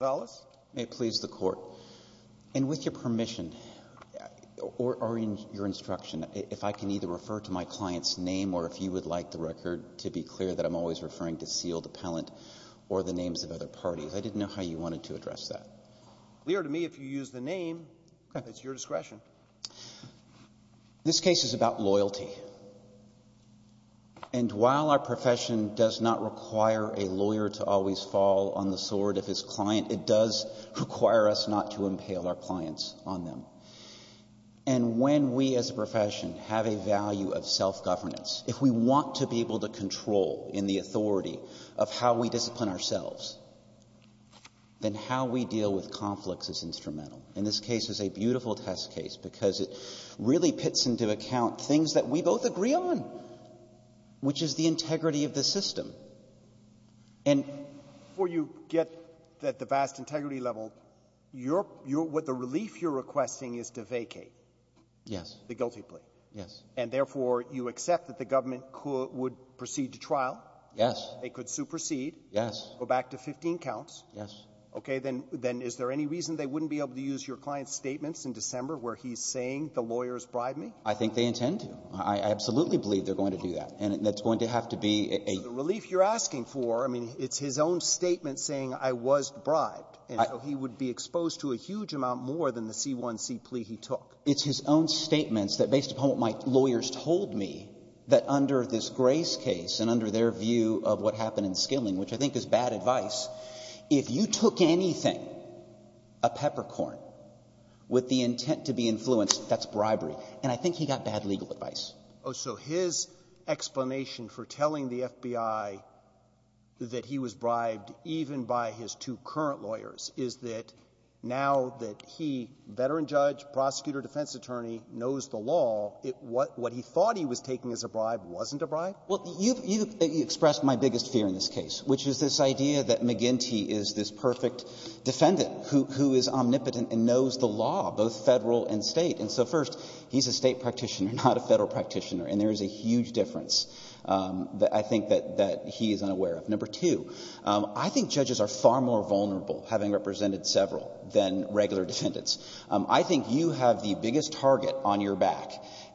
And with your permission, or in your instruction, if I can either refer to my client's name or if you would like the record to be clear that I'm always referring to Sealed Appellant or the names of other parties. I didn't know how you wanted to address that. It's clear to me if you use the name, it's your discretion. This case is about loyalty. And while our profession does not require a lawyer to always fall on the sword of his client, it does require us not to impale our clients on them. And when we as a profession have a value of self-governance, if we want to be able to control in the authority of how we discipline ourselves, then how we deal with conflicts is instrumental. And this case is a beautiful test case because it really pits into account things that we both agree on, which is the integrity of the system. And before you get at the vast integrity level, you're — what the relief you're requesting is to vacate. Yes. The guilty plea. Yes. And therefore, you accept that the government could — would proceed to trial? Yes. They could supersede? Yes. Go back to 15 counts? Yes. Okay. Then is there any reason they wouldn't be able to use your client's statements in December where he's saying the lawyers bribed me? I think they intend to. I absolutely believe they're going to do that. And it's going to have to be a — So the relief you're asking for, I mean, it's his own statement saying I was bribed. And so he would be exposed to a huge amount more than the C-1C plea he took. It's his own statements that based upon what my lawyers told me, that under this Grace case and under their view of what happened in Skilling, which I think is bad advice, if you took anything, a peppercorn, with the intent to be influenced, that's bribery. And I think he got bad legal advice. Oh, so his explanation for telling the FBI that he was bribed even by his two current lawyers is that now that he, veteran judge, prosecutor, defense attorney, knows the law, what he thought he was taking as a bribe wasn't a bribe? Well, you've expressed my biggest fear in this case, which is this idea that McGinty is this perfect defendant who is omnipotent and knows the law, both Federal and State. And so, first, he's a State practitioner, not a Federal practitioner. And there is a huge difference that I think that he is unaware of. Number two, I think judges are far more vulnerable, having represented several, than regular defendants. I think you have the biggest target on your back.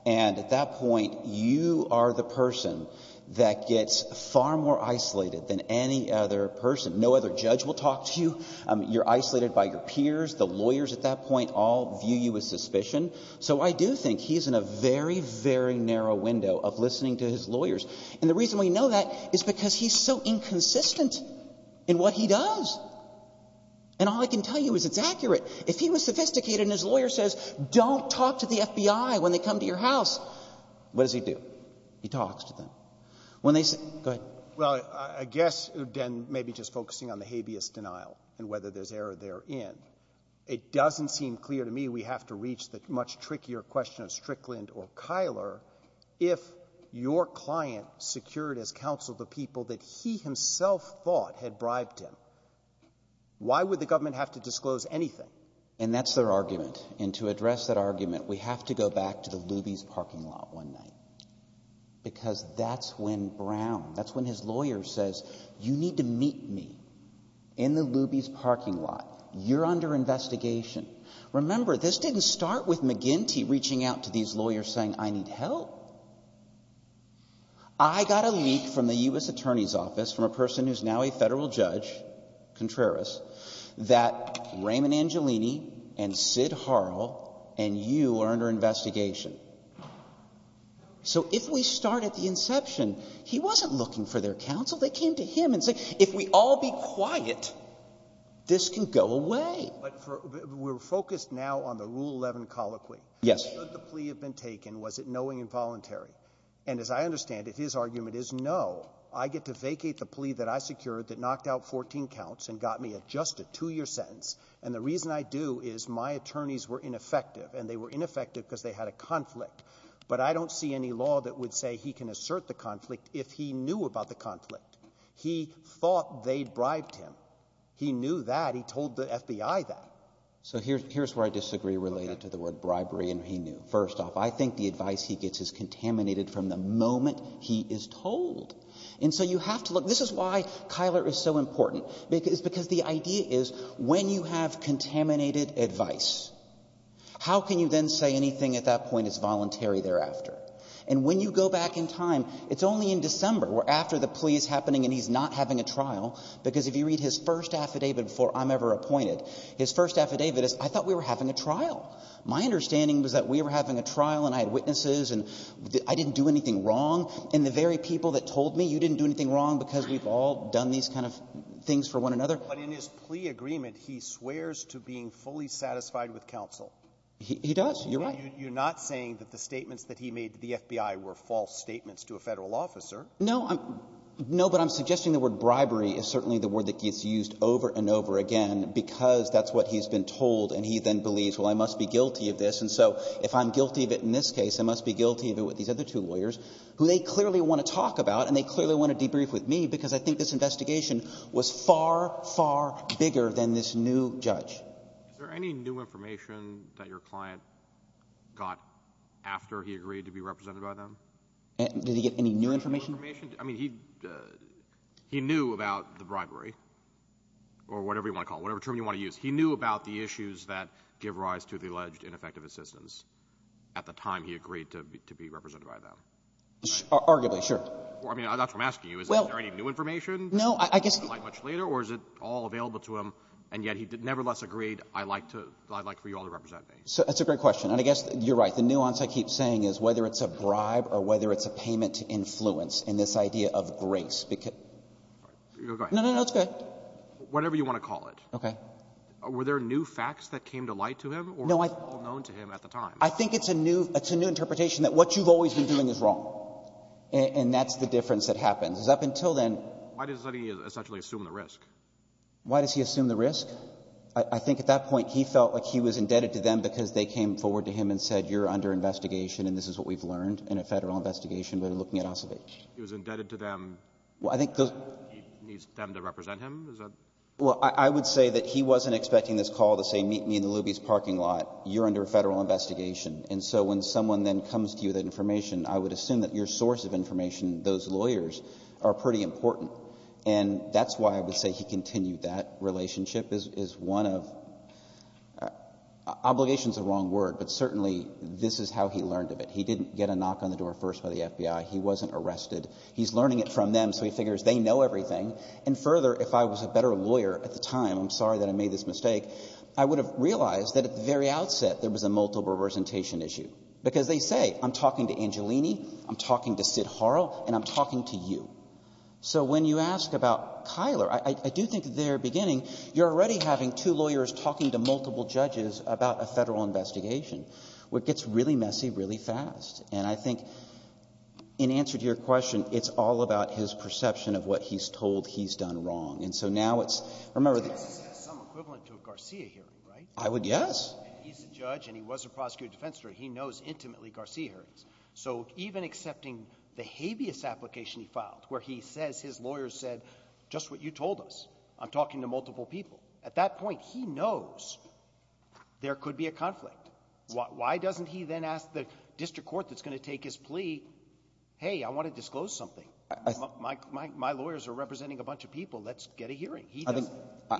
And at that point, you are the person that gets far more isolated than any other person. No other judge will talk to you. You're isolated by your peers. The lawyers at that point all view you as suspicion. So I do think he's in a very, very narrow window of listening to his lawyers. And the reason we know that is because he's so inconsistent in what he does. And all I can tell you is it's accurate. If he was sophisticated and his lawyer says, don't talk to the FBI when they come to your house, what does he do? He talks to them. When they say — go ahead. Well, I guess, then, maybe just focusing on the habeas denial and whether there's error therein, it doesn't seem clear to me we have to reach the much trickier question of Strickland or Kyler if your client secured as counsel the people that he himself thought had bribed him. Why would the government have to disclose anything? And that's their argument. And to address that argument, we have to go back to the Luby's parking lot one night because that's when Brown, that's when his lawyer says, you need to meet me in the Luby's parking lot. You're under investigation. Remember, this didn't start with McGinty reaching out to these lawyers saying, I need help. I got a leak from the U.S. Attorney's Office from a person who's now a Federal judge, Contreras, that Raymond Angelini and Sid Harrell and you are under investigation. So if we start at the inception, he wasn't looking for their counsel. They came to him and said, if we all be quiet, this can go away. But for — we're focused now on the Rule 11 colloquy. Yes. Should the plea have been taken? Was it knowing and voluntary? And as I understand it, his argument is, no, I get to vacate the plea that I secured that knocked out 14 counts and got me just a two-year sentence. And the reason I do is my attorneys were ineffective, and they were ineffective because they had a conflict. But I don't see any law that would say he can assert the conflict if he knew about the conflict. He thought they'd bribed him. He knew that. He told the FBI that. So here's where I disagree related to the word bribery, and he knew. First off, I think the advice he gets is contaminated from the moment he is told. And so you have to look. This is why Kyler is so important, because the idea is when you have contaminated advice, how can you then say anything at that point is voluntary thereafter? And when you go back in time, it's only in December, where after the plea is happening and he's not having a trial, because if you read his first affidavit before I'm ever appointed, his first affidavit is, I thought we were having a trial. My understanding was that we were having a trial, and I had witnesses, and I didn't do anything wrong, and the very people that told me, you didn't do anything wrong because we've all done these kind of things for one another. But in his plea agreement, he swears to being fully satisfied with counsel. He does. You're right. You're not saying that the statements that he made to the FBI were false statements to a Federal officer. No. No, but I'm suggesting the word bribery is certainly the word that gets used over and over again because that's what he's been told, and he then believes, well, I must be guilty of this, and so if I'm guilty of it in this case, I must be guilty of it with these other two lawyers, who they clearly want to talk about and they clearly want to debrief with me because I think this investigation was far, far bigger than this new judge. Is there any new information that your client got after he agreed to be represented by them? Did he get any new information? New information? I mean, he knew about the bribery or whatever you want to call it, whatever term you want to use. He knew about the issues that give rise to the alleged ineffective assistance at the time he agreed to be represented by them. Arguably. Sure. I mean, that's what I'm asking you. Is there any new information? No, I guess the — Or is it all available to him, and yet he nevertheless agreed, I'd like to — I'd like for you all to represent me? That's a great question, and I guess you're right. The nuance I keep saying is whether it's a bribe or whether it's a payment to influence in this idea of grace. Go ahead. No, no, no. It's good. Whatever you want to call it. Okay. Were there new facts that came to light to him or was it all known to him at the time? I think it's a new — it's a new interpretation that what you've always been doing is wrong, and that's the difference that happens. Because up until then — Why does he essentially assume the risk? Why does he assume the risk? I think at that point he felt like he was indebted to them because they came forward to him and said, you're under investigation and this is what we've learned in a Federal investigation. We're looking at Acevedo. He was indebted to them. Well, I think those — He needs them to represent him. Is that — Well, I would say that he wasn't expecting this call to say, meet me in the Luby's parking lot. You're under a Federal investigation. And so when someone then comes to you with that information, I would assume that your source of information, those lawyers, are pretty important. And that's why I would say he continued that relationship as one of — obligation is the wrong word, but certainly this is how he learned of it. He didn't get a knock on the door first by the FBI. He wasn't arrested. He's learning it from them, so he figures they know everything. And further, if I was a better lawyer at the time, I'm sorry that I made this mistake, I would have realized that at the very outset there was a multiple representation issue, because they say I'm talking to Angelini, I'm talking to Sid Harrell, and I'm talking to you. So when you ask about Kyler, I do think at the very beginning you're already having two lawyers talking to multiple judges about a Federal investigation, where it gets really messy, really fast. And I think in answer to your question, it's all about his perception of what he's told he's done wrong. And so now it's — remember — He has some equivalent to a Garcia hearing, right? I would guess. And he's a judge and he was a prosecutor defense attorney. He knows intimately Garcia hearings. So even accepting the habeas application he filed, where he says his lawyers said, just what you told us, I'm talking to multiple people. At that point, he knows there could be a conflict. Why doesn't he then ask the district court that's going to take his plea, hey, I want to disclose something. My lawyers are representing a bunch of people. Let's get a hearing. He doesn't.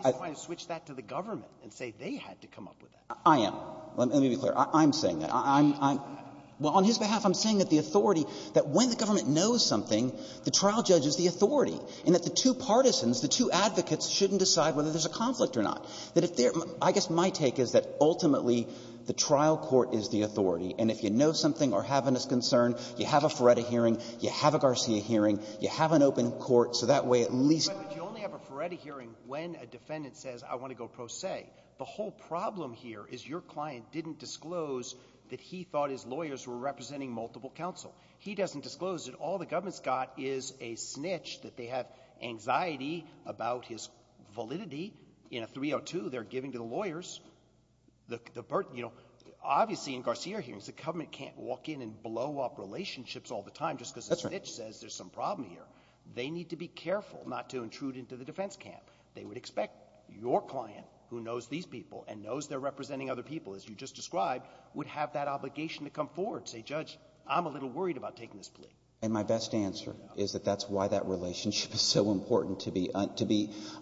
He's trying to switch that to the government and say they had to come up with that. I am. Let me be clear. I'm saying that. I'm — well, on his behalf, I'm saying that the authority — that when the government knows something, the trial judge is the authority, and that the two partisans, the two advocates shouldn't decide whether there's a conflict or not. That if they're — I guess my take is that ultimately, the trial court is the authority. And if you know something or have a disconcern, you have a Ferretta hearing, you have a Garcia hearing, you have an open court, so that way at least — But you only have a Ferretta hearing when a defendant says, I want to go pro se. The whole problem here is your client didn't disclose that he thought his lawyers were representing multiple counsel. He doesn't disclose that all the government's got is a snitch that they have anxiety about his validity. In a 302, they're giving to the lawyers the — you know, obviously in Garcia hearings, the government can't walk in and blow up relationships all the time just because a snitch says there's some problem here. They need to be careful not to intrude into the defense camp. They would expect your client, who knows these people and knows they're representing other people, as you just described, would have that obligation to come forward and say, Judge, I'm a little worried about taking this plea. And my best answer is that that's why that relationship is so important, to be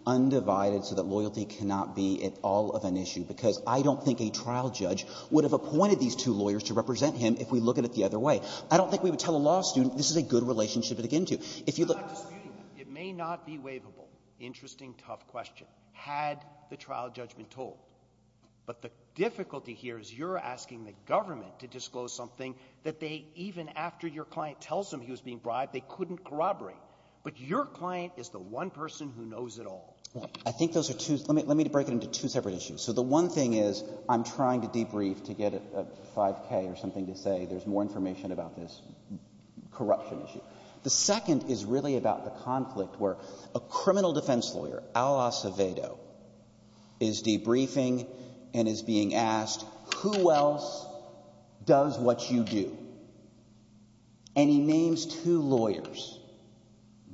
undivided so that loyalty cannot be at all of an issue, because I don't think a trial judge would have appointed these two lawyers to represent him if we look at it the other way. I don't think we would tell a law student this is a good relationship to begin to. If you look — It may not be waivable. Interesting, tough question, had the trial judgment told. But the difficulty here is you're asking the government to disclose something that they, even after your client tells them he was being bribed, they couldn't corroborate. But your client is the one person who knows it all. I think those are two — let me break it into two separate issues. So the one thing is I'm trying to debrief to get a 5K or something to say there's more information about this corruption issue. The second is really about the conflict where a criminal defense lawyer, Al Acevedo, is debriefing and is being asked, who else does what you do? And he names two lawyers,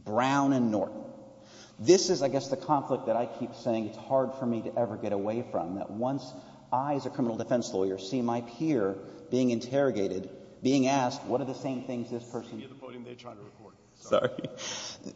Brown and Norton. This is, I guess, the conflict that I keep saying it's hard for me to ever get away from, that once I, as a criminal defense lawyer, see my peer being interrogated, being asked what are the same things this person — You're the podium they're trying to record. Sorry.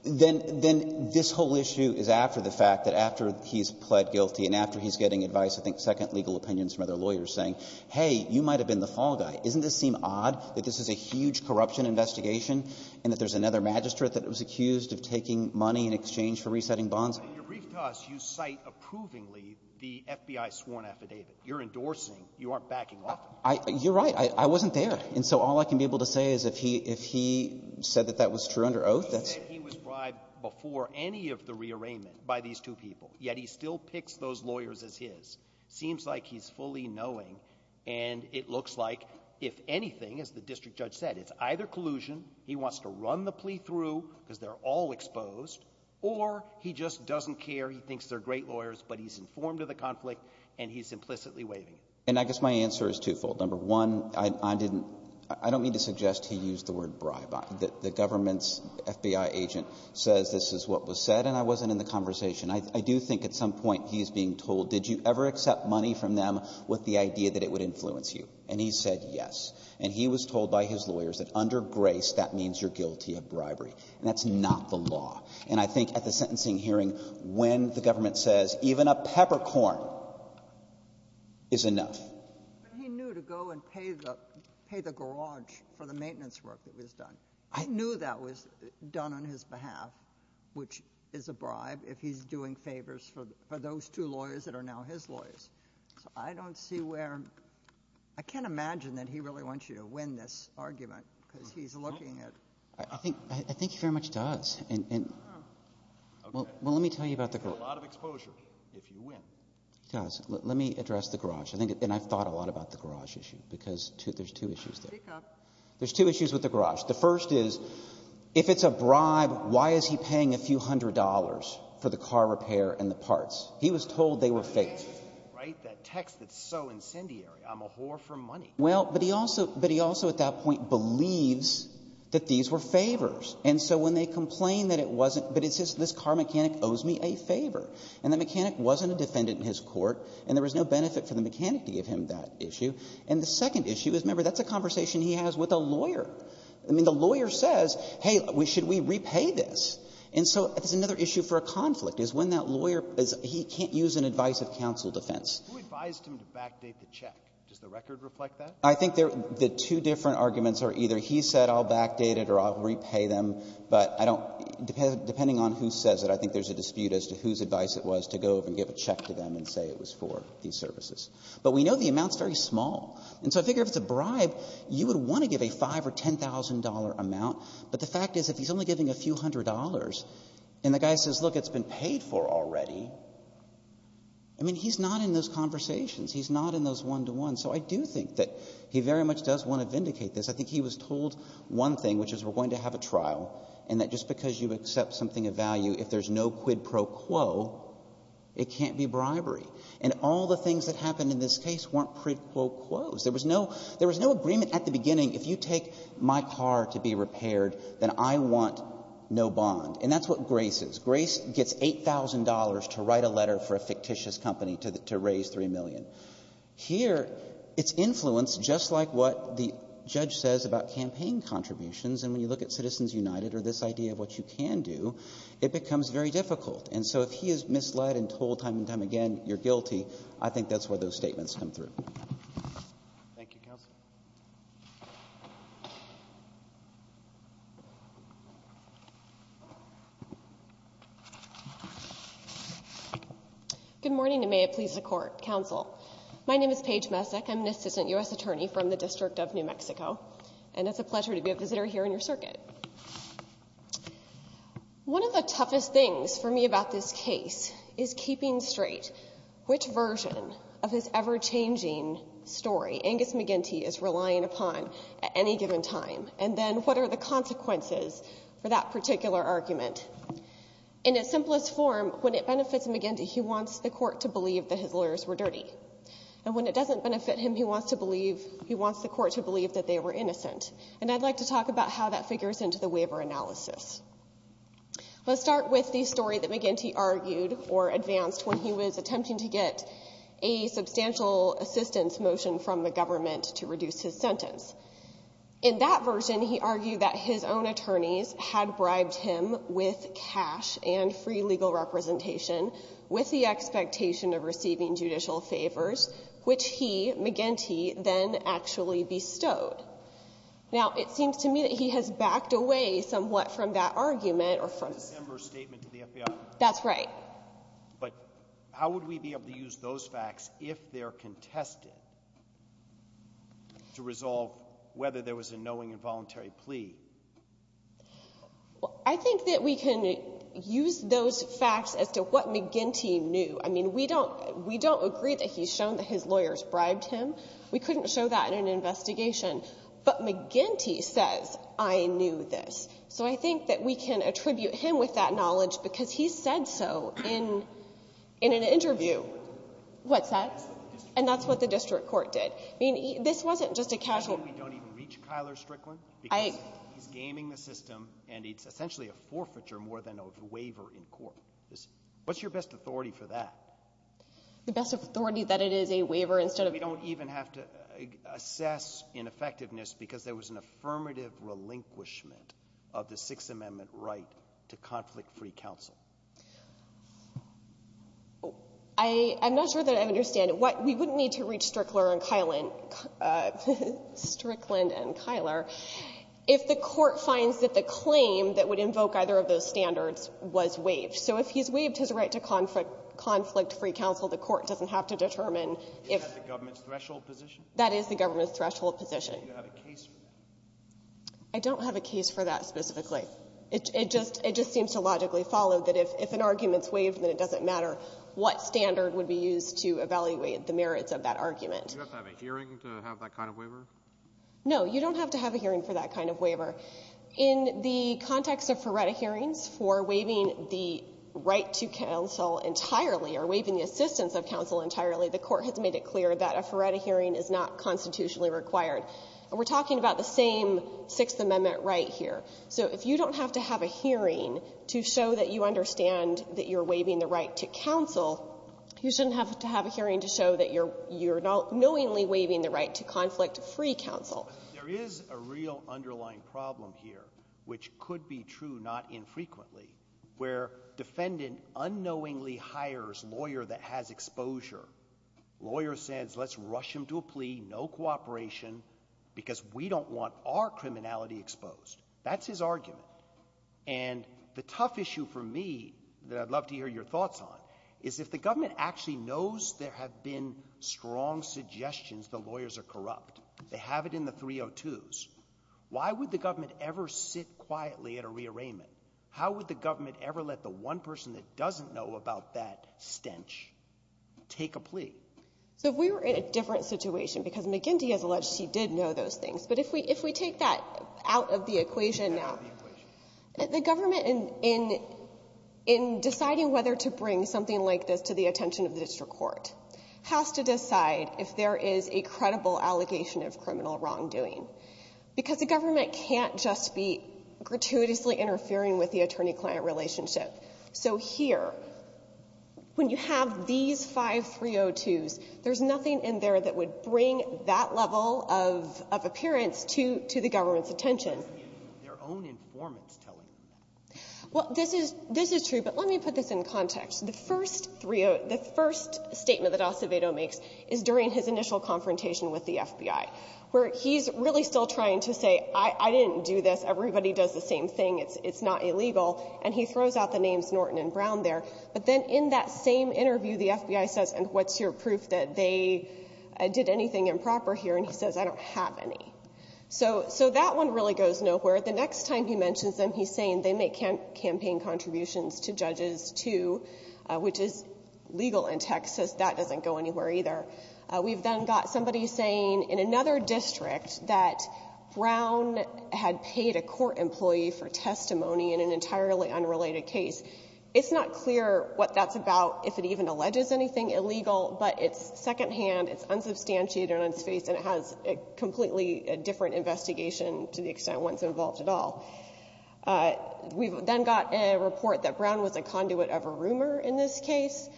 Then — then this whole issue is after the fact, that after he's pled guilty and after he's getting advice, I think second legal opinions from other lawyers saying, hey, you might have been the fall guy. Isn't this seem odd that this is a huge corruption investigation and that there's another magistrate that was accused of taking money in exchange for resetting bonds? But in your brief toss, you cite approvingly the FBI sworn affidavit. You're endorsing. You aren't backing off. You're right. I wasn't there. And so all I can be able to say is if he — if he said that that was true under oath, that's — He said he was bribed before any of the rearrangement by these two people. Yet he still picks those lawyers as his. Seems like he's fully knowing. And it looks like, if anything, as the district judge said, it's either collusion, he wants to run the plea through because they're all exposed, or he just doesn't care, he thinks they're great lawyers, but he's informed of the conflict and he's implicitly waiving. And I guess my answer is twofold. Number one, I didn't — I don't mean to suggest he used the word bribe. The government's FBI agent says this is what was said, and I wasn't in the conversation. I do think at some point he's being told, did you ever accept money from them with the idea that it would influence you? And he said yes. And he was told by his lawyers that under grace, that means you're guilty of bribery. And that's not the law. And I think at the sentencing hearing, when the government says even a peppercorn is enough. But he knew to go and pay the garage for the maintenance work that was done. I knew that was done on his behalf, which is a bribe if he's doing favors for those two lawyers that are now his lawyers. So I don't see where — I can't imagine that he really wants you to win this argument because he's looking at — I think he very much does. Well, let me tell you about the garage. You get a lot of exposure if you win. He does. Let me address the garage. And I've thought a lot about the garage issue, because there's two issues there. There's two issues with the garage. The first is, if it's a bribe, why is he paying a few hundred dollars for the car repair and the parts? He was told they were fake. Right? That text that's so incendiary. I'm a whore for money. Well, but he also — but he also at that point believes that these were favors. And so when they complain that it wasn't, but it says this car mechanic owes me a favor. And the mechanic wasn't a defendant in his court. And there was no benefit for the mechanic to give him that issue. And the second issue is, remember, that's a conversation he has with a lawyer. I mean, the lawyer says, hey, should we repay this? And so that's another issue for a conflict, is when that lawyer — he can't use an advice of counsel defense. Who advised him to backdate the check? Does the record reflect that? I think the two different arguments are either he said I'll backdate it or I'll repay them, but I don't — depending on who says it, I think there's a dispute as to whose But we know the amount's very small. And so I figure if it's a bribe, you would want to give a $5,000 or $10,000 amount. But the fact is, if he's only giving a few hundred dollars and the guy says, look, it's been paid for already, I mean, he's not in those conversations. He's not in those one-to-ones. So I do think that he very much does want to vindicate this. I think he was told one thing, which is we're going to have a trial, and that just because you accept something of value, if there's no quid pro quo, it can't be bribery. And all the things that happened in this case weren't quid pro quos. There was no — there was no agreement at the beginning, if you take my car to be repaired, then I want no bond. And that's what Grace is. Grace gets $8,000 to write a letter for a fictitious company to raise $3 million. Here, it's influenced just like what the judge says about campaign contributions. And when you look at Citizens United or this idea of what you can do, it becomes very difficult. And so if he is misled and told time and time again you're guilty, I think that's where those statements come through. Thank you, Counsel. Good morning, and may it please the Court. Counsel, my name is Paige Messick. I'm an assistant U.S. attorney from the District of New Mexico. And it's a pleasure to be a visitor here in your circuit. One of the toughest things for me about this case is keeping straight which version of this ever-changing story Angus McGinty is relying upon at any given time, and then what are the consequences for that particular argument. In its simplest form, when it benefits McGinty, he wants the Court to believe that his lawyers were dirty. And when it doesn't benefit him, he wants to believe — he wants the Court to believe that they were innocent. And I'd like to talk about how that figures into the waiver analysis. Let's start with the story that McGinty argued or advanced when he was attempting to get a substantial assistance motion from the government to reduce his sentence. In that version, he argued that his own attorneys had bribed him with cash and free legal representation with the expectation of receiving judicial favors, which he, McGinty, then actually bestowed. Now, it seems to me that he has backed away somewhat from that argument or from — The December statement to the FBI. That's right. But how would we be able to use those facts if they're contested to resolve whether there was a knowing and voluntary plea? I think that we can use those facts as to what McGinty knew. I mean, we don't agree that he's shown that his lawyers bribed him. We couldn't show that in an investigation. But McGinty says, I knew this. So I think that we can attribute him with that knowledge because he said so in an interview. What's that? And that's what the district court did. I mean, this wasn't just a casual — You mean we don't even reach Kyler Strickland? Because he's gaming the system, and it's essentially a forfeiture more than a waiver in court. What's your best authority for that? The best authority that it is a waiver instead of — So we don't even have to assess ineffectiveness because there was an affirmative relinquishment of the Sixth Amendment right to conflict-free counsel. I'm not sure that I understand it. We wouldn't need to reach Strickland and Kyler if the Court finds that the claim that would invoke either of those standards was waived. So if he's waived his right to conflict-free counsel, the Court doesn't have to determine Is that the government's threshold position? That is the government's threshold position. Do you have a case for that? I don't have a case for that specifically. It just seems to logically follow that if an argument's waived, then it doesn't matter what standard would be used to evaluate the merits of that argument. Do you have to have a hearing to have that kind of waiver? No. You don't have to have a hearing for that kind of waiver. In the context of Ferretta hearings, for waiving the right to counsel entirely or waiving the assistance of counsel entirely, the Court has made it clear that a Ferretta hearing is not constitutionally required. And we're talking about the same Sixth Amendment right here. So if you don't have to have a hearing to show that you understand that you're waiving the right to counsel, you shouldn't have to have a hearing to show that you're knowingly waiving the right to conflict-free counsel. There is a real underlying problem here, which could be true not infrequently, where defendant unknowingly hires lawyer that has exposure. Lawyer says, let's rush him to a plea, no cooperation, because we don't want our criminality exposed. That's his argument. And the tough issue for me that I'd love to hear your thoughts on is if the government actually knows there have been strong suggestions the lawyers are corrupt, they have it in the 302s, why would the government ever sit quietly at a rearrangement? How would the government ever let the one person that doesn't know about that stench take a plea? So if we were in a different situation, because McGinty has alleged she did know those things, but if we take that out of the equation now, the government, in deciding whether to bring something like this to the attention of the district court, has to decide if there is a credible allegation of criminal wrongdoing, because the government can't just be gratuitously interfering with the attorney-client relationship. So here, when you have these five 302s, there's nothing in there that would bring that level of appearance to the government's attention. This is true, but let me put this in context. The first statement that Acevedo makes is during his initial confrontation with the FBI, where he's really still trying to say, I didn't do this, everybody does the same thing, it's not illegal, and he throws out the names Norton and Brown there, but then in that same interview, the FBI says, and what's your proof that they did anything improper here, and he says, I don't have any. So that one really goes nowhere. The next time he mentions them, he's saying they make campaign contributions to judges too, which is legal in Texas. That doesn't go anywhere either. We've then got somebody saying in another district that Brown had paid a court employee for testimony in an entirely unrelated case. It's not clear what that's about, if it even alleges anything illegal, but it's secondhand, it's unsubstantiated on its face, and it has a completely different investigation to the extent one's involved at all. We've then got a report that Brown was a conduit of a rumor in this case,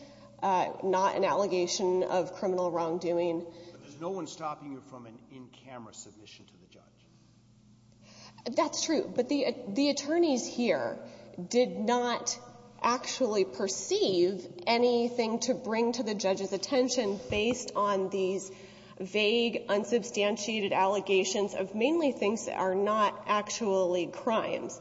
not an actual wrongdoing. But there's no one stopping you from an in-camera submission to the judge. That's true. But the attorneys here did not actually perceive anything to bring to the judge's attention based on these vague, unsubstantiated allegations of mainly things that are not actually crimes.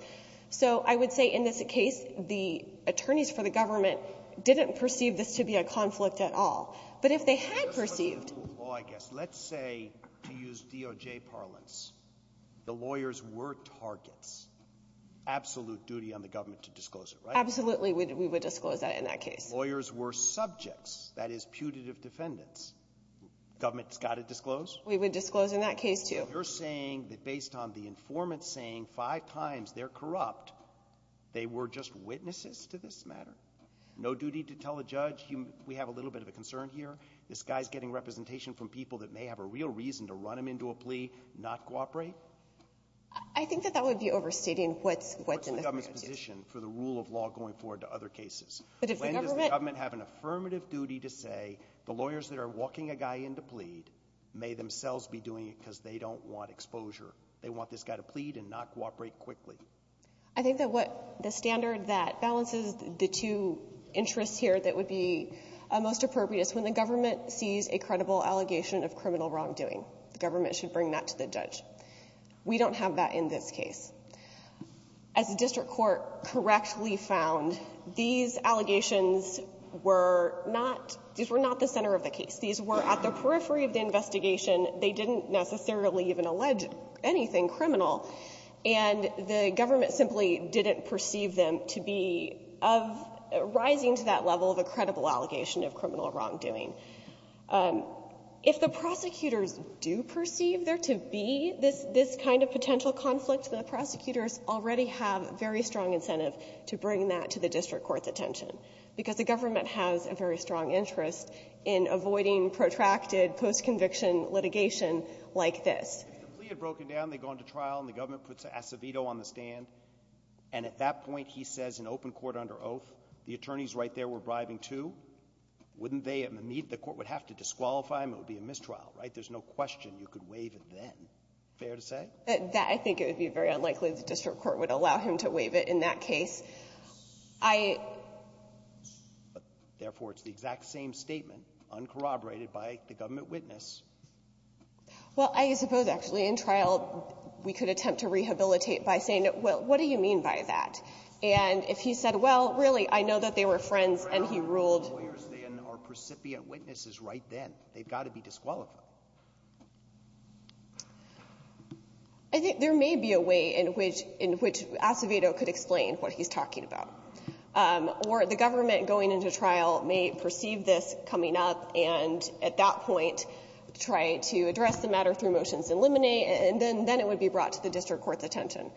So I would say in this case, the attorneys for the government didn't perceive this to be a conflict at all. But if they had perceived ---- Roberts. Let's say, to use DOJ parlance, the lawyers were targets. Absolute duty on the government to disclose it, right? Absolutely. We would disclose that in that case. Lawyers were subjects, that is, putative defendants. Government's got to disclose? We would disclose in that case, too. You're saying that based on the informant saying five times they're corrupt, they were just witnesses to this matter? No duty to tell a judge, we have a little bit of a concern here. This guy's getting representation from people that may have a real reason to run him into a plea, not cooperate? I think that that would be overstating what's in the government's position for the rule of law going forward to other cases. But if the government ---- When does the government have an affirmative duty to say the lawyers that are walking a guy in to plead may themselves be doing it because they don't want exposure. They want this guy to plead and not cooperate quickly. I think that what the standard that balances the two interests here that would be most appropriate is when the government sees a credible allegation of criminal wrongdoing, the government should bring that to the judge. We don't have that in this case. As the district court correctly found, these allegations were not the center of the case. These were at the periphery of the investigation. They didn't necessarily even allege anything criminal. And the government simply didn't perceive them to be of rising to that level of credible allegation of criminal wrongdoing. If the prosecutors do perceive there to be this kind of potential conflict, the prosecutors already have very strong incentive to bring that to the district court's attention, because the government has a very strong interest in avoiding protracted post-conviction litigation like this. If the plea had broken down, they go into trial and the government puts Acevedo on the stand, and at that point he says in open court under oath, the attorneys right there were bribing, too, wouldn't they in the need? The court would have to disqualify him. It would be a mistrial, right? There's no question you could waive it then. Fair to say? I think it would be very unlikely the district court would allow him to waive it in that case. I — Therefore, it's the exact same statement, uncorroborated by the government witness. Well, I suppose, actually, in trial we could attempt to rehabilitate by saying, well, what do you mean by that? And if he said, well, really, I know that they were friends and he ruled — If they are not lawyers, they are not precipient witnesses right then. They've got to be disqualified. I think there may be a way in which Acevedo could explain what he's talking about. Or the government going into trial may perceive this coming up and at that point try to address the matter through motions in limine, and then it would be brought to the district court's attention.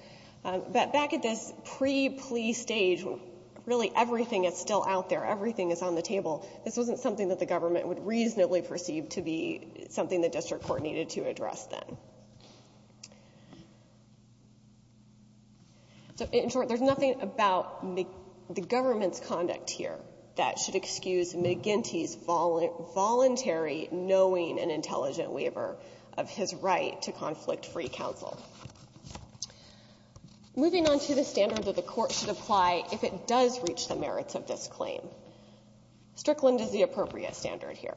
But back at this pre-plea stage, when really everything is still out there, everything is on the table, this wasn't something that the government would reasonably perceive to be something the district court needed to address then. So, in short, there's nothing about the government's conduct here that should excuse McGinty's voluntary knowing an intelligent waiver of his right to conflict free counsel. Moving on to the standard that the Court should apply if it does reach the merits of this claim. Strickland is the appropriate standard here.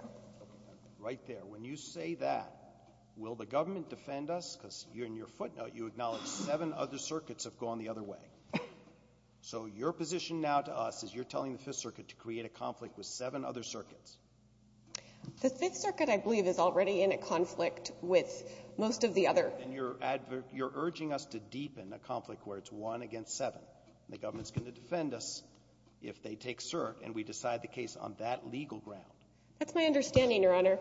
Right there. When you say that, will the government defend us? Because in your footnote, you acknowledge seven other circuits have gone the other way. So your position now to us is you're telling the Fifth Circuit to create a conflict with seven other circuits. The Fifth Circuit, I believe, is already in a conflict with most of the other. And you're urging us to deepen a conflict where it's one against seven. The government's going to defend us if they take cert and we decide the case on that legal ground. That's my understanding, Your Honor.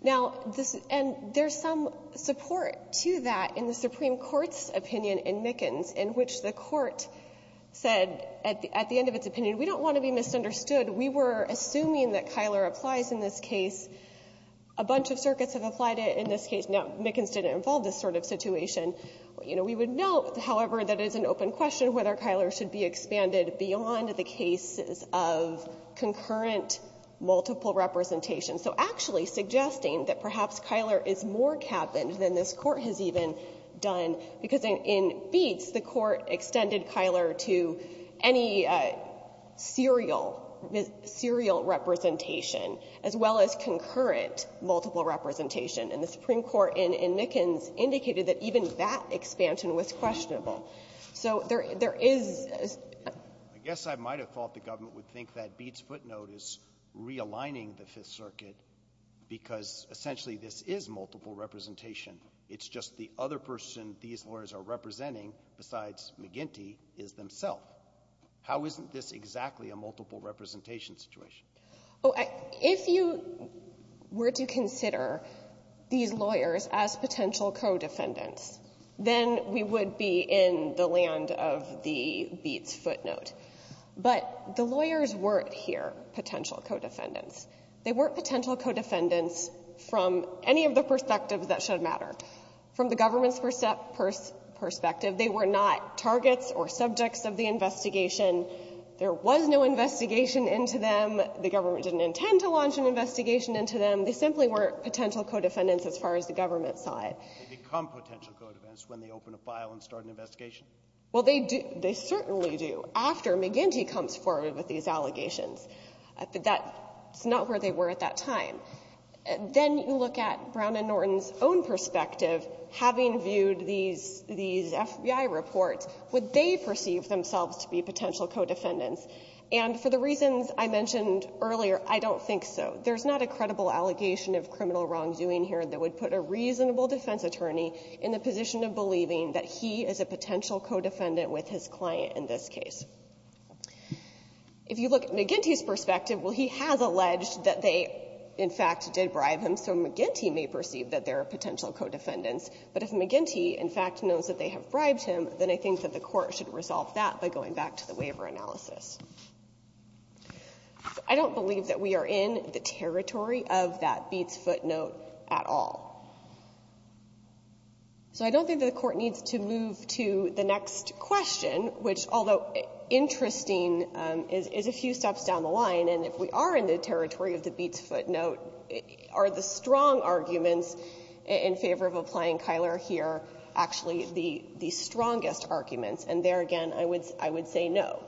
Now, and there's some support to that in the Supreme Court's opinion in Mickens in which the Court said at the end of its opinion, we don't want to be misunderstood. We were assuming that Kyler applies in this case. A bunch of circuits have applied it in this case. Now, Mickens didn't involve this sort of situation. You know, we would note, however, that it is an open question whether Kyler should be expanded beyond the cases of concurrent multiple representation. So actually suggesting that perhaps Kyler is more cabined than this Court has even done, because in Beetz, the Court extended Kyler to any serial, serial representation as well as concurrent multiple representation. And the Supreme Court in Mickens indicated that even that expansion was questionable. So there is a — Roberts. I guess I might have thought the government would think that Beetz footnote is realigning the Fifth Circuit because essentially this is multiple representation. It's just the other person these lawyers are representing besides McGinty is themself. How isn't this exactly a multiple representation situation? Oh, if you were to consider these lawyers as potential co-defendants, then we would be in the land of the Beetz footnote. But the lawyers weren't here potential co-defendants. They weren't potential co-defendants from any of the perspectives that should matter. From the government's perspective, they were not targets or subjects of the investigation. There was no investigation into them. The government didn't intend to launch an investigation into them. They simply weren't potential co-defendants as far as the government saw it. They become potential co-defendants when they open a file and start an investigation? Well, they do. They certainly do after McGinty comes forward with these allegations. But that's not where they were at that time. Then you look at Brown and Norton's own perspective. Having viewed these FBI reports, would they perceive themselves to be potential co-defendants? And for the reasons I mentioned earlier, I don't think so. There's not a credible allegation of criminal wrongdoing here that would put a reasonable defense attorney in the position of believing that he is a potential co-defendant with his client in this case. If you look at McGinty's perspective, well, he has alleged that they, in fact, did bribe him. And so McGinty may perceive that they're potential co-defendants. But if McGinty, in fact, knows that they have bribed him, then I think that the Court should resolve that by going back to the waiver analysis. I don't believe that we are in the territory of that Beats footnote at all. So I don't think that the Court needs to move to the next question, which, although interesting, is a few steps down the line, and if we are in the territory of the Beats footnote, are the strong arguments in favor of applying Cuyler here actually the strongest arguments? And there again, I would say no.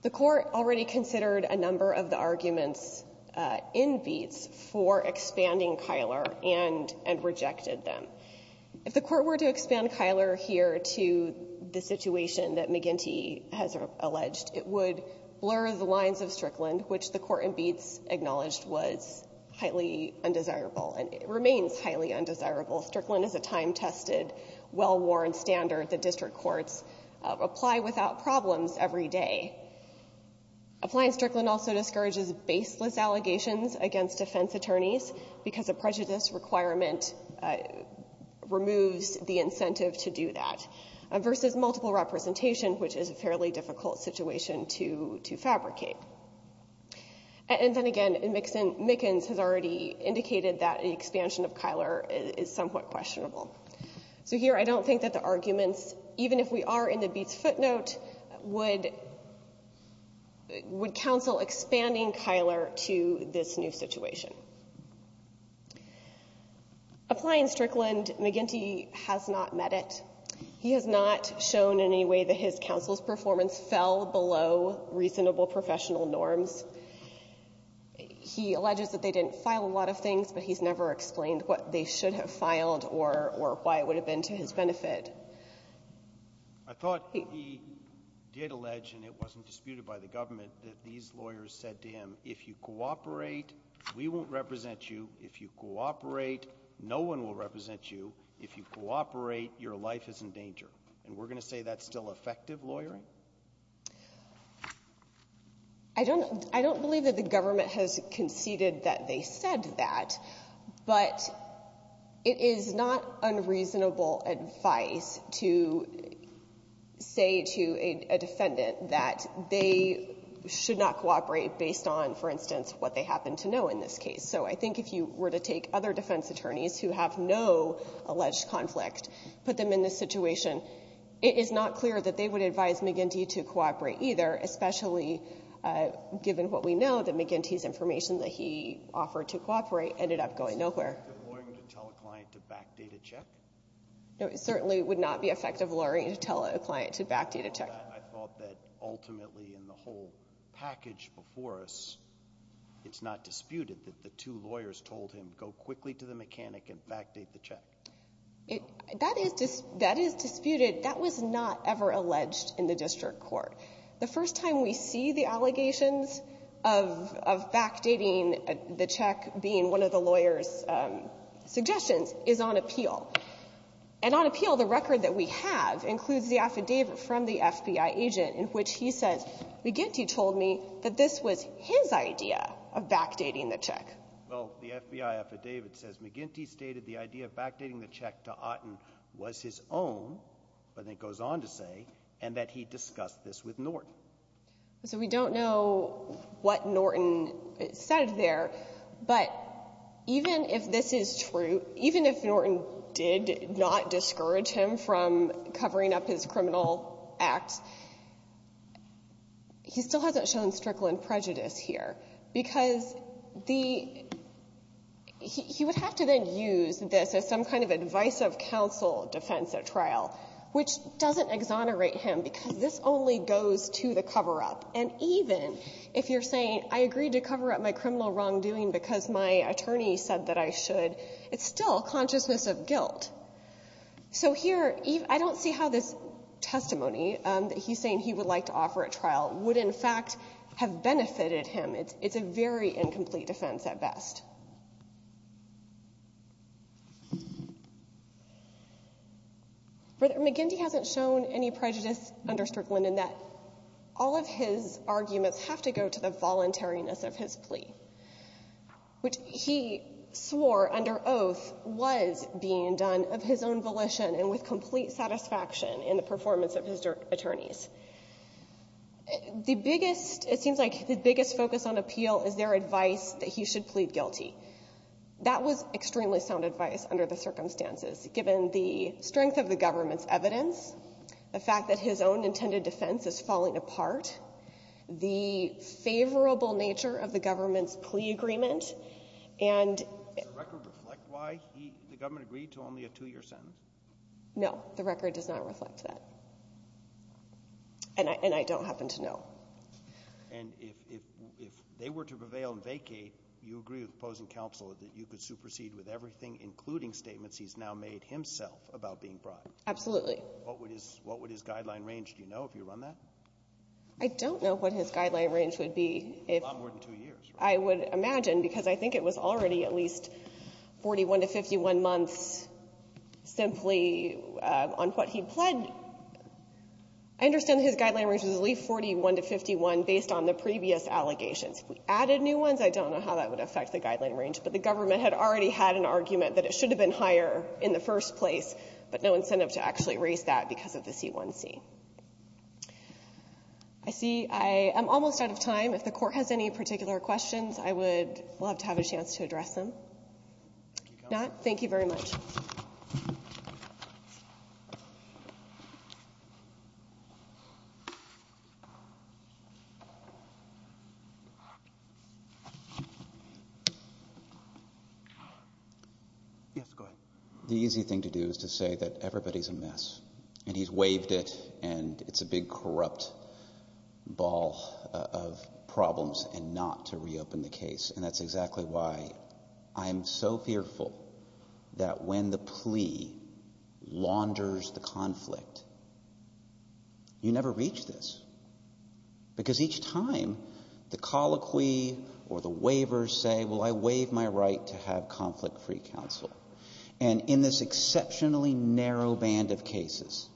The Court already considered a number of the arguments in Beats for expanding Cuyler and rejected them. If the Court were to expand Cuyler here to the situation that McGinty has alleged, it would blur the lines of Strickland, which the Court in Beats acknowledged was highly undesirable and remains highly undesirable. Strickland is a time-tested, well-worn standard that district courts apply without problems every day. Applying Strickland also discourages baseless allegations against defense attorneys because a prejudice requirement removes the incentive to do that, versus multiple representation, which is a fairly difficult situation to fabricate. And then again, Mickens has already indicated that an expansion of Cuyler is somewhat questionable. So here I don't think that the arguments, even if we are in the Beats footnote, would counsel expanding Cuyler to this new situation. Applying Strickland, McGinty has not met it. He has not shown in any way that his counsel's performance fell below reasonable professional norms. He alleges that they didn't file a lot of things, but he's never explained what they should have filed or why it would have been to his benefit. I thought he did allege, and it wasn't disputed by the government, that these lawyers said to him, if you cooperate, we won't represent you. If you cooperate, no one will represent you. If you cooperate, your life is in danger. And we're going to say that's still effective lawyering? I don't believe that the government has conceded that they said that. But it is not unreasonable advice to say to a defendant that they should not cooperate based on, for instance, what they happen to know in this case. So I think if you were to take other defense attorneys who have no alleged conflict, put them in this situation, it is not clear that they would advise McGinty to cooperate either, especially given what we know, that McGinty's information that he offered to cooperate ended up going nowhere. Is it effective lawyering to tell a client to back data check? No, it certainly would not be effective lawyering to tell a client to back data check. I thought that ultimately in the whole package before us, it's not disputed that two lawyers told him, go quickly to the mechanic and back date the check. That is disputed. That was not ever alleged in the district court. The first time we see the allegations of back dating the check being one of the lawyer's suggestions is on appeal. And on appeal, the record that we have includes the affidavit from the FBI agent in which he says, McGinty told me that this was his idea of back dating the check. Well, the FBI affidavit says McGinty stated the idea of back dating the check to Otten was his own, but then goes on to say, and that he discussed this with Norton. So we don't know what Norton said there, but even if this is true, even if Norton did not discourage him from covering up his criminal act, he still hasn't shown strickling prejudice here, because the he would have to then use this as some kind of advice of counsel defense at trial, which doesn't exonerate him, because this only goes to the cover-up. And even if you're saying, I agreed to cover up my criminal wrongdoing because my attorney said that I should, it's still a consciousness of guilt. So here, I don't see how this testimony that he's saying he would like to offer at trial would in fact have benefited him. It's a very incomplete defense at best. But McGinty hasn't shown any prejudice under Strickland in that all of his arguments have to go to the voluntariness of his plea, which he swore under oath was being done of his own volition and with complete satisfaction in the performance of his attorneys. The biggest, it seems like the biggest focus on appeal is their advice that he should plead guilty. That was extremely sound advice under the circumstances. Given the strength of the government's evidence, the fact that his own intended defense is falling apart, the favorable nature of the government's plea agreement and the record reflect why the government agreed to only a two-year sentence? No. The record does not reflect that. And I don't happen to know. And if they were to prevail and vacate, you agree with opposing counsel that you could supersede with everything, including statements he's now made himself, about being bribed? Absolutely. What would his guideline range, do you know, if you run that? I don't know what his guideline range would be. A lot more than two years. I would imagine, because I think it was already at least 41 to 51 months simply on what he pled. I understand his guideline range was at least 41 to 51 based on the previous allegations. If we added new ones, I don't know how that would affect the guideline range. But the government had already had an argument that it should have been higher in the first place, but no incentive to actually raise that because of the C-1C. I see I am almost out of time. If the Court has any particular questions, I would love to have a chance to address Thank you very much. Yes, go ahead. The easy thing to do is to say that everybody's a mess and he's waived it and it's a big corrupt ball of problems and not to reopen the case. And that's exactly why I am so fearful that when the plea launders the conflict, you never reach this. Because each time the colloquy or the waivers say, well, I waive my right to have conflict-free counsel. And in this exceptionally narrow band of cases,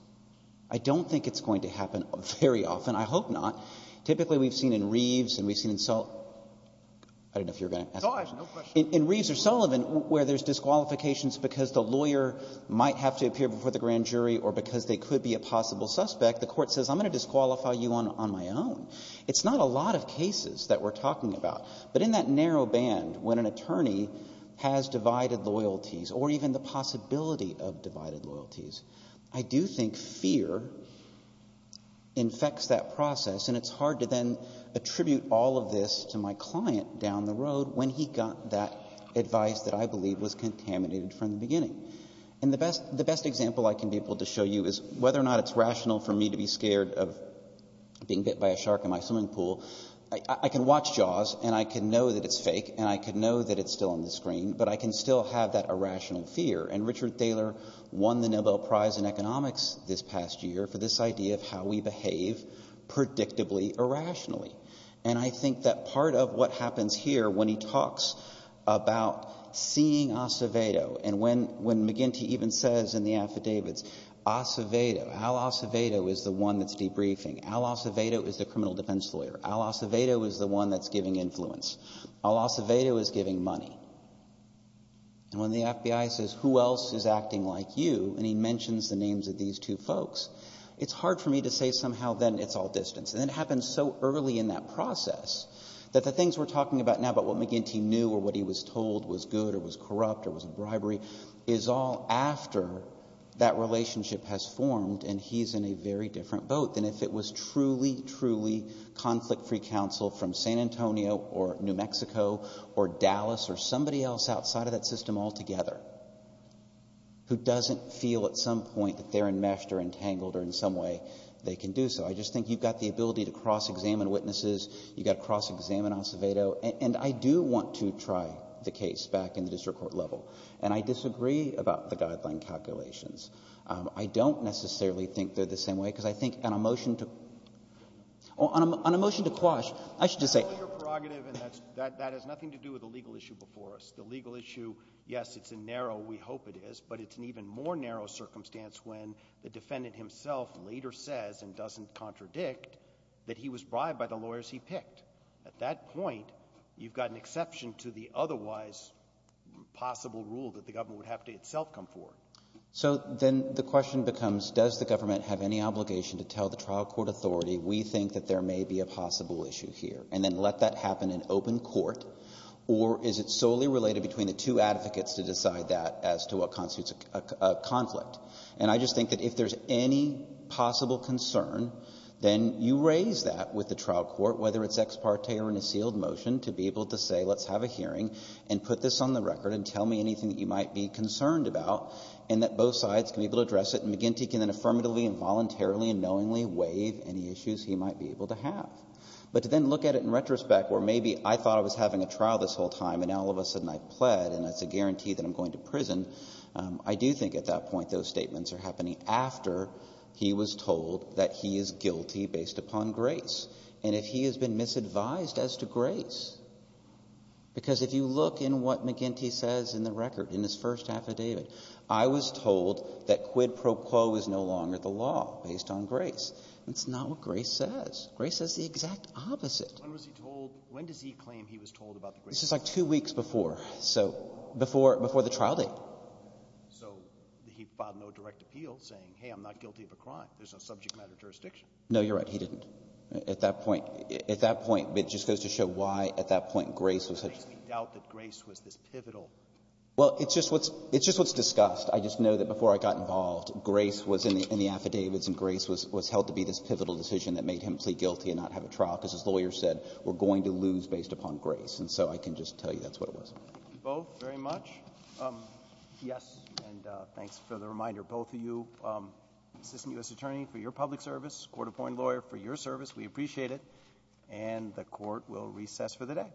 I don't think it's going to happen very often. I hope not. Typically, we've seen in Reeves and we've seen in Sullivan. I don't know if you're going to ask me. In Reeves or Sullivan, where there's disqualifications because the lawyer might have to appear before the grand jury or because they could be a possible suspect, the Court says, I'm going to disqualify you on my own. It's not a lot of cases that we're talking about. But in that narrow band, when an attorney has divided loyalties or even the possibility of divided loyalties, I do think fear infects that process. And it's hard to then attribute all of this to my client down the road when he got that advice that I believe was contaminated from the beginning. And the best example I can be able to show you is whether or not it's rational for me to be scared of being bit by a shark in my swimming pool. I can watch Jaws and I can know that it's fake and I can know that it's still on the screen, but I can still have that irrational fear. And Richard Thaler won the Nobel Prize in Economics this past year for this idea of how we behave predictably irrationally. And I think that part of what happens here when he talks about seeing Acevedo and when McGinty even says in the affidavits, Acevedo, Al Acevedo is the one that's debriefing. Al Acevedo is the criminal defense lawyer. Al Acevedo is the one that's giving influence. Al Acevedo is giving money. And when the FBI says, who else is acting like you, and he mentions the names of these two folks, it's hard for me to say somehow then it's all distance. And it happens so early in that process that the things we're talking about now about what McGinty knew or what he was told was good or was corrupt or was a bribery is all after that relationship has formed and he's in a very different boat than if it was truly, truly conflict-free counsel from San Antonio or New And so I think there's somebody else outside of that system altogether who doesn't feel at some point that they're enmeshed or entangled or in some way they can do so. I just think you've got the ability to cross-examine witnesses. You've got to cross-examine Acevedo. And I do want to try the case back in the district court level. And I disagree about the guideline calculations. I don't necessarily think they're the same way because I think on a motion to quash I should just say Your prerogative and that has nothing to do with the legal issue before us. The legal issue, yes, it's a narrow, we hope it is, but it's an even more narrow circumstance when the defendant himself later says and doesn't contradict that he was bribed by the lawyers he picked. At that point, you've got an exception to the otherwise possible rule that the government would have to itself come forward. So then the question becomes does the government have any obligation to tell the And then let that happen in open court. Or is it solely related between the two advocates to decide that as to what constitutes a conflict? And I just think that if there's any possible concern, then you raise that with the trial court, whether it's ex parte or in a sealed motion, to be able to say let's have a hearing and put this on the record and tell me anything that you might be concerned about and that both sides can be able to address it. And McGinty can then affirmatively and voluntarily and knowingly waive any issues he might be able to have. But to then look at it in retrospect where maybe I thought I was having a trial this whole time and now all of a sudden I've pled and it's a guarantee that I'm going to prison, I do think at that point those statements are happening after he was told that he is guilty based upon grace. And if he has been misadvised as to grace, because if you look in what McGinty says in the record, in his first affidavit, I was told that quid pro quo is no longer the law based on grace. That's not what grace says. Grace says the exact opposite. When was he told? When does he claim he was told about the grace? This is like two weeks before. So before the trial date. So he filed no direct appeal saying, hey, I'm not guilty of a crime. There's no subject matter jurisdiction. No, you're right. He didn't. At that point, at that point, it just goes to show why at that point grace was such a thing. I doubt that grace was this pivotal. Well, it's just what's discussed. I just know that before I got involved, grace was in the affidavits and grace was held to be this pivotal decision that made him plead guilty and not have a trial because his lawyer said, we're going to lose based upon grace. And so I can just tell you that's what it was. Thank you both very much. Yes, and thanks for the reminder. Both of you, assistant U.S. attorney for your public service, court-appointed lawyer for your service. We appreciate it. And the Court will recess for the day.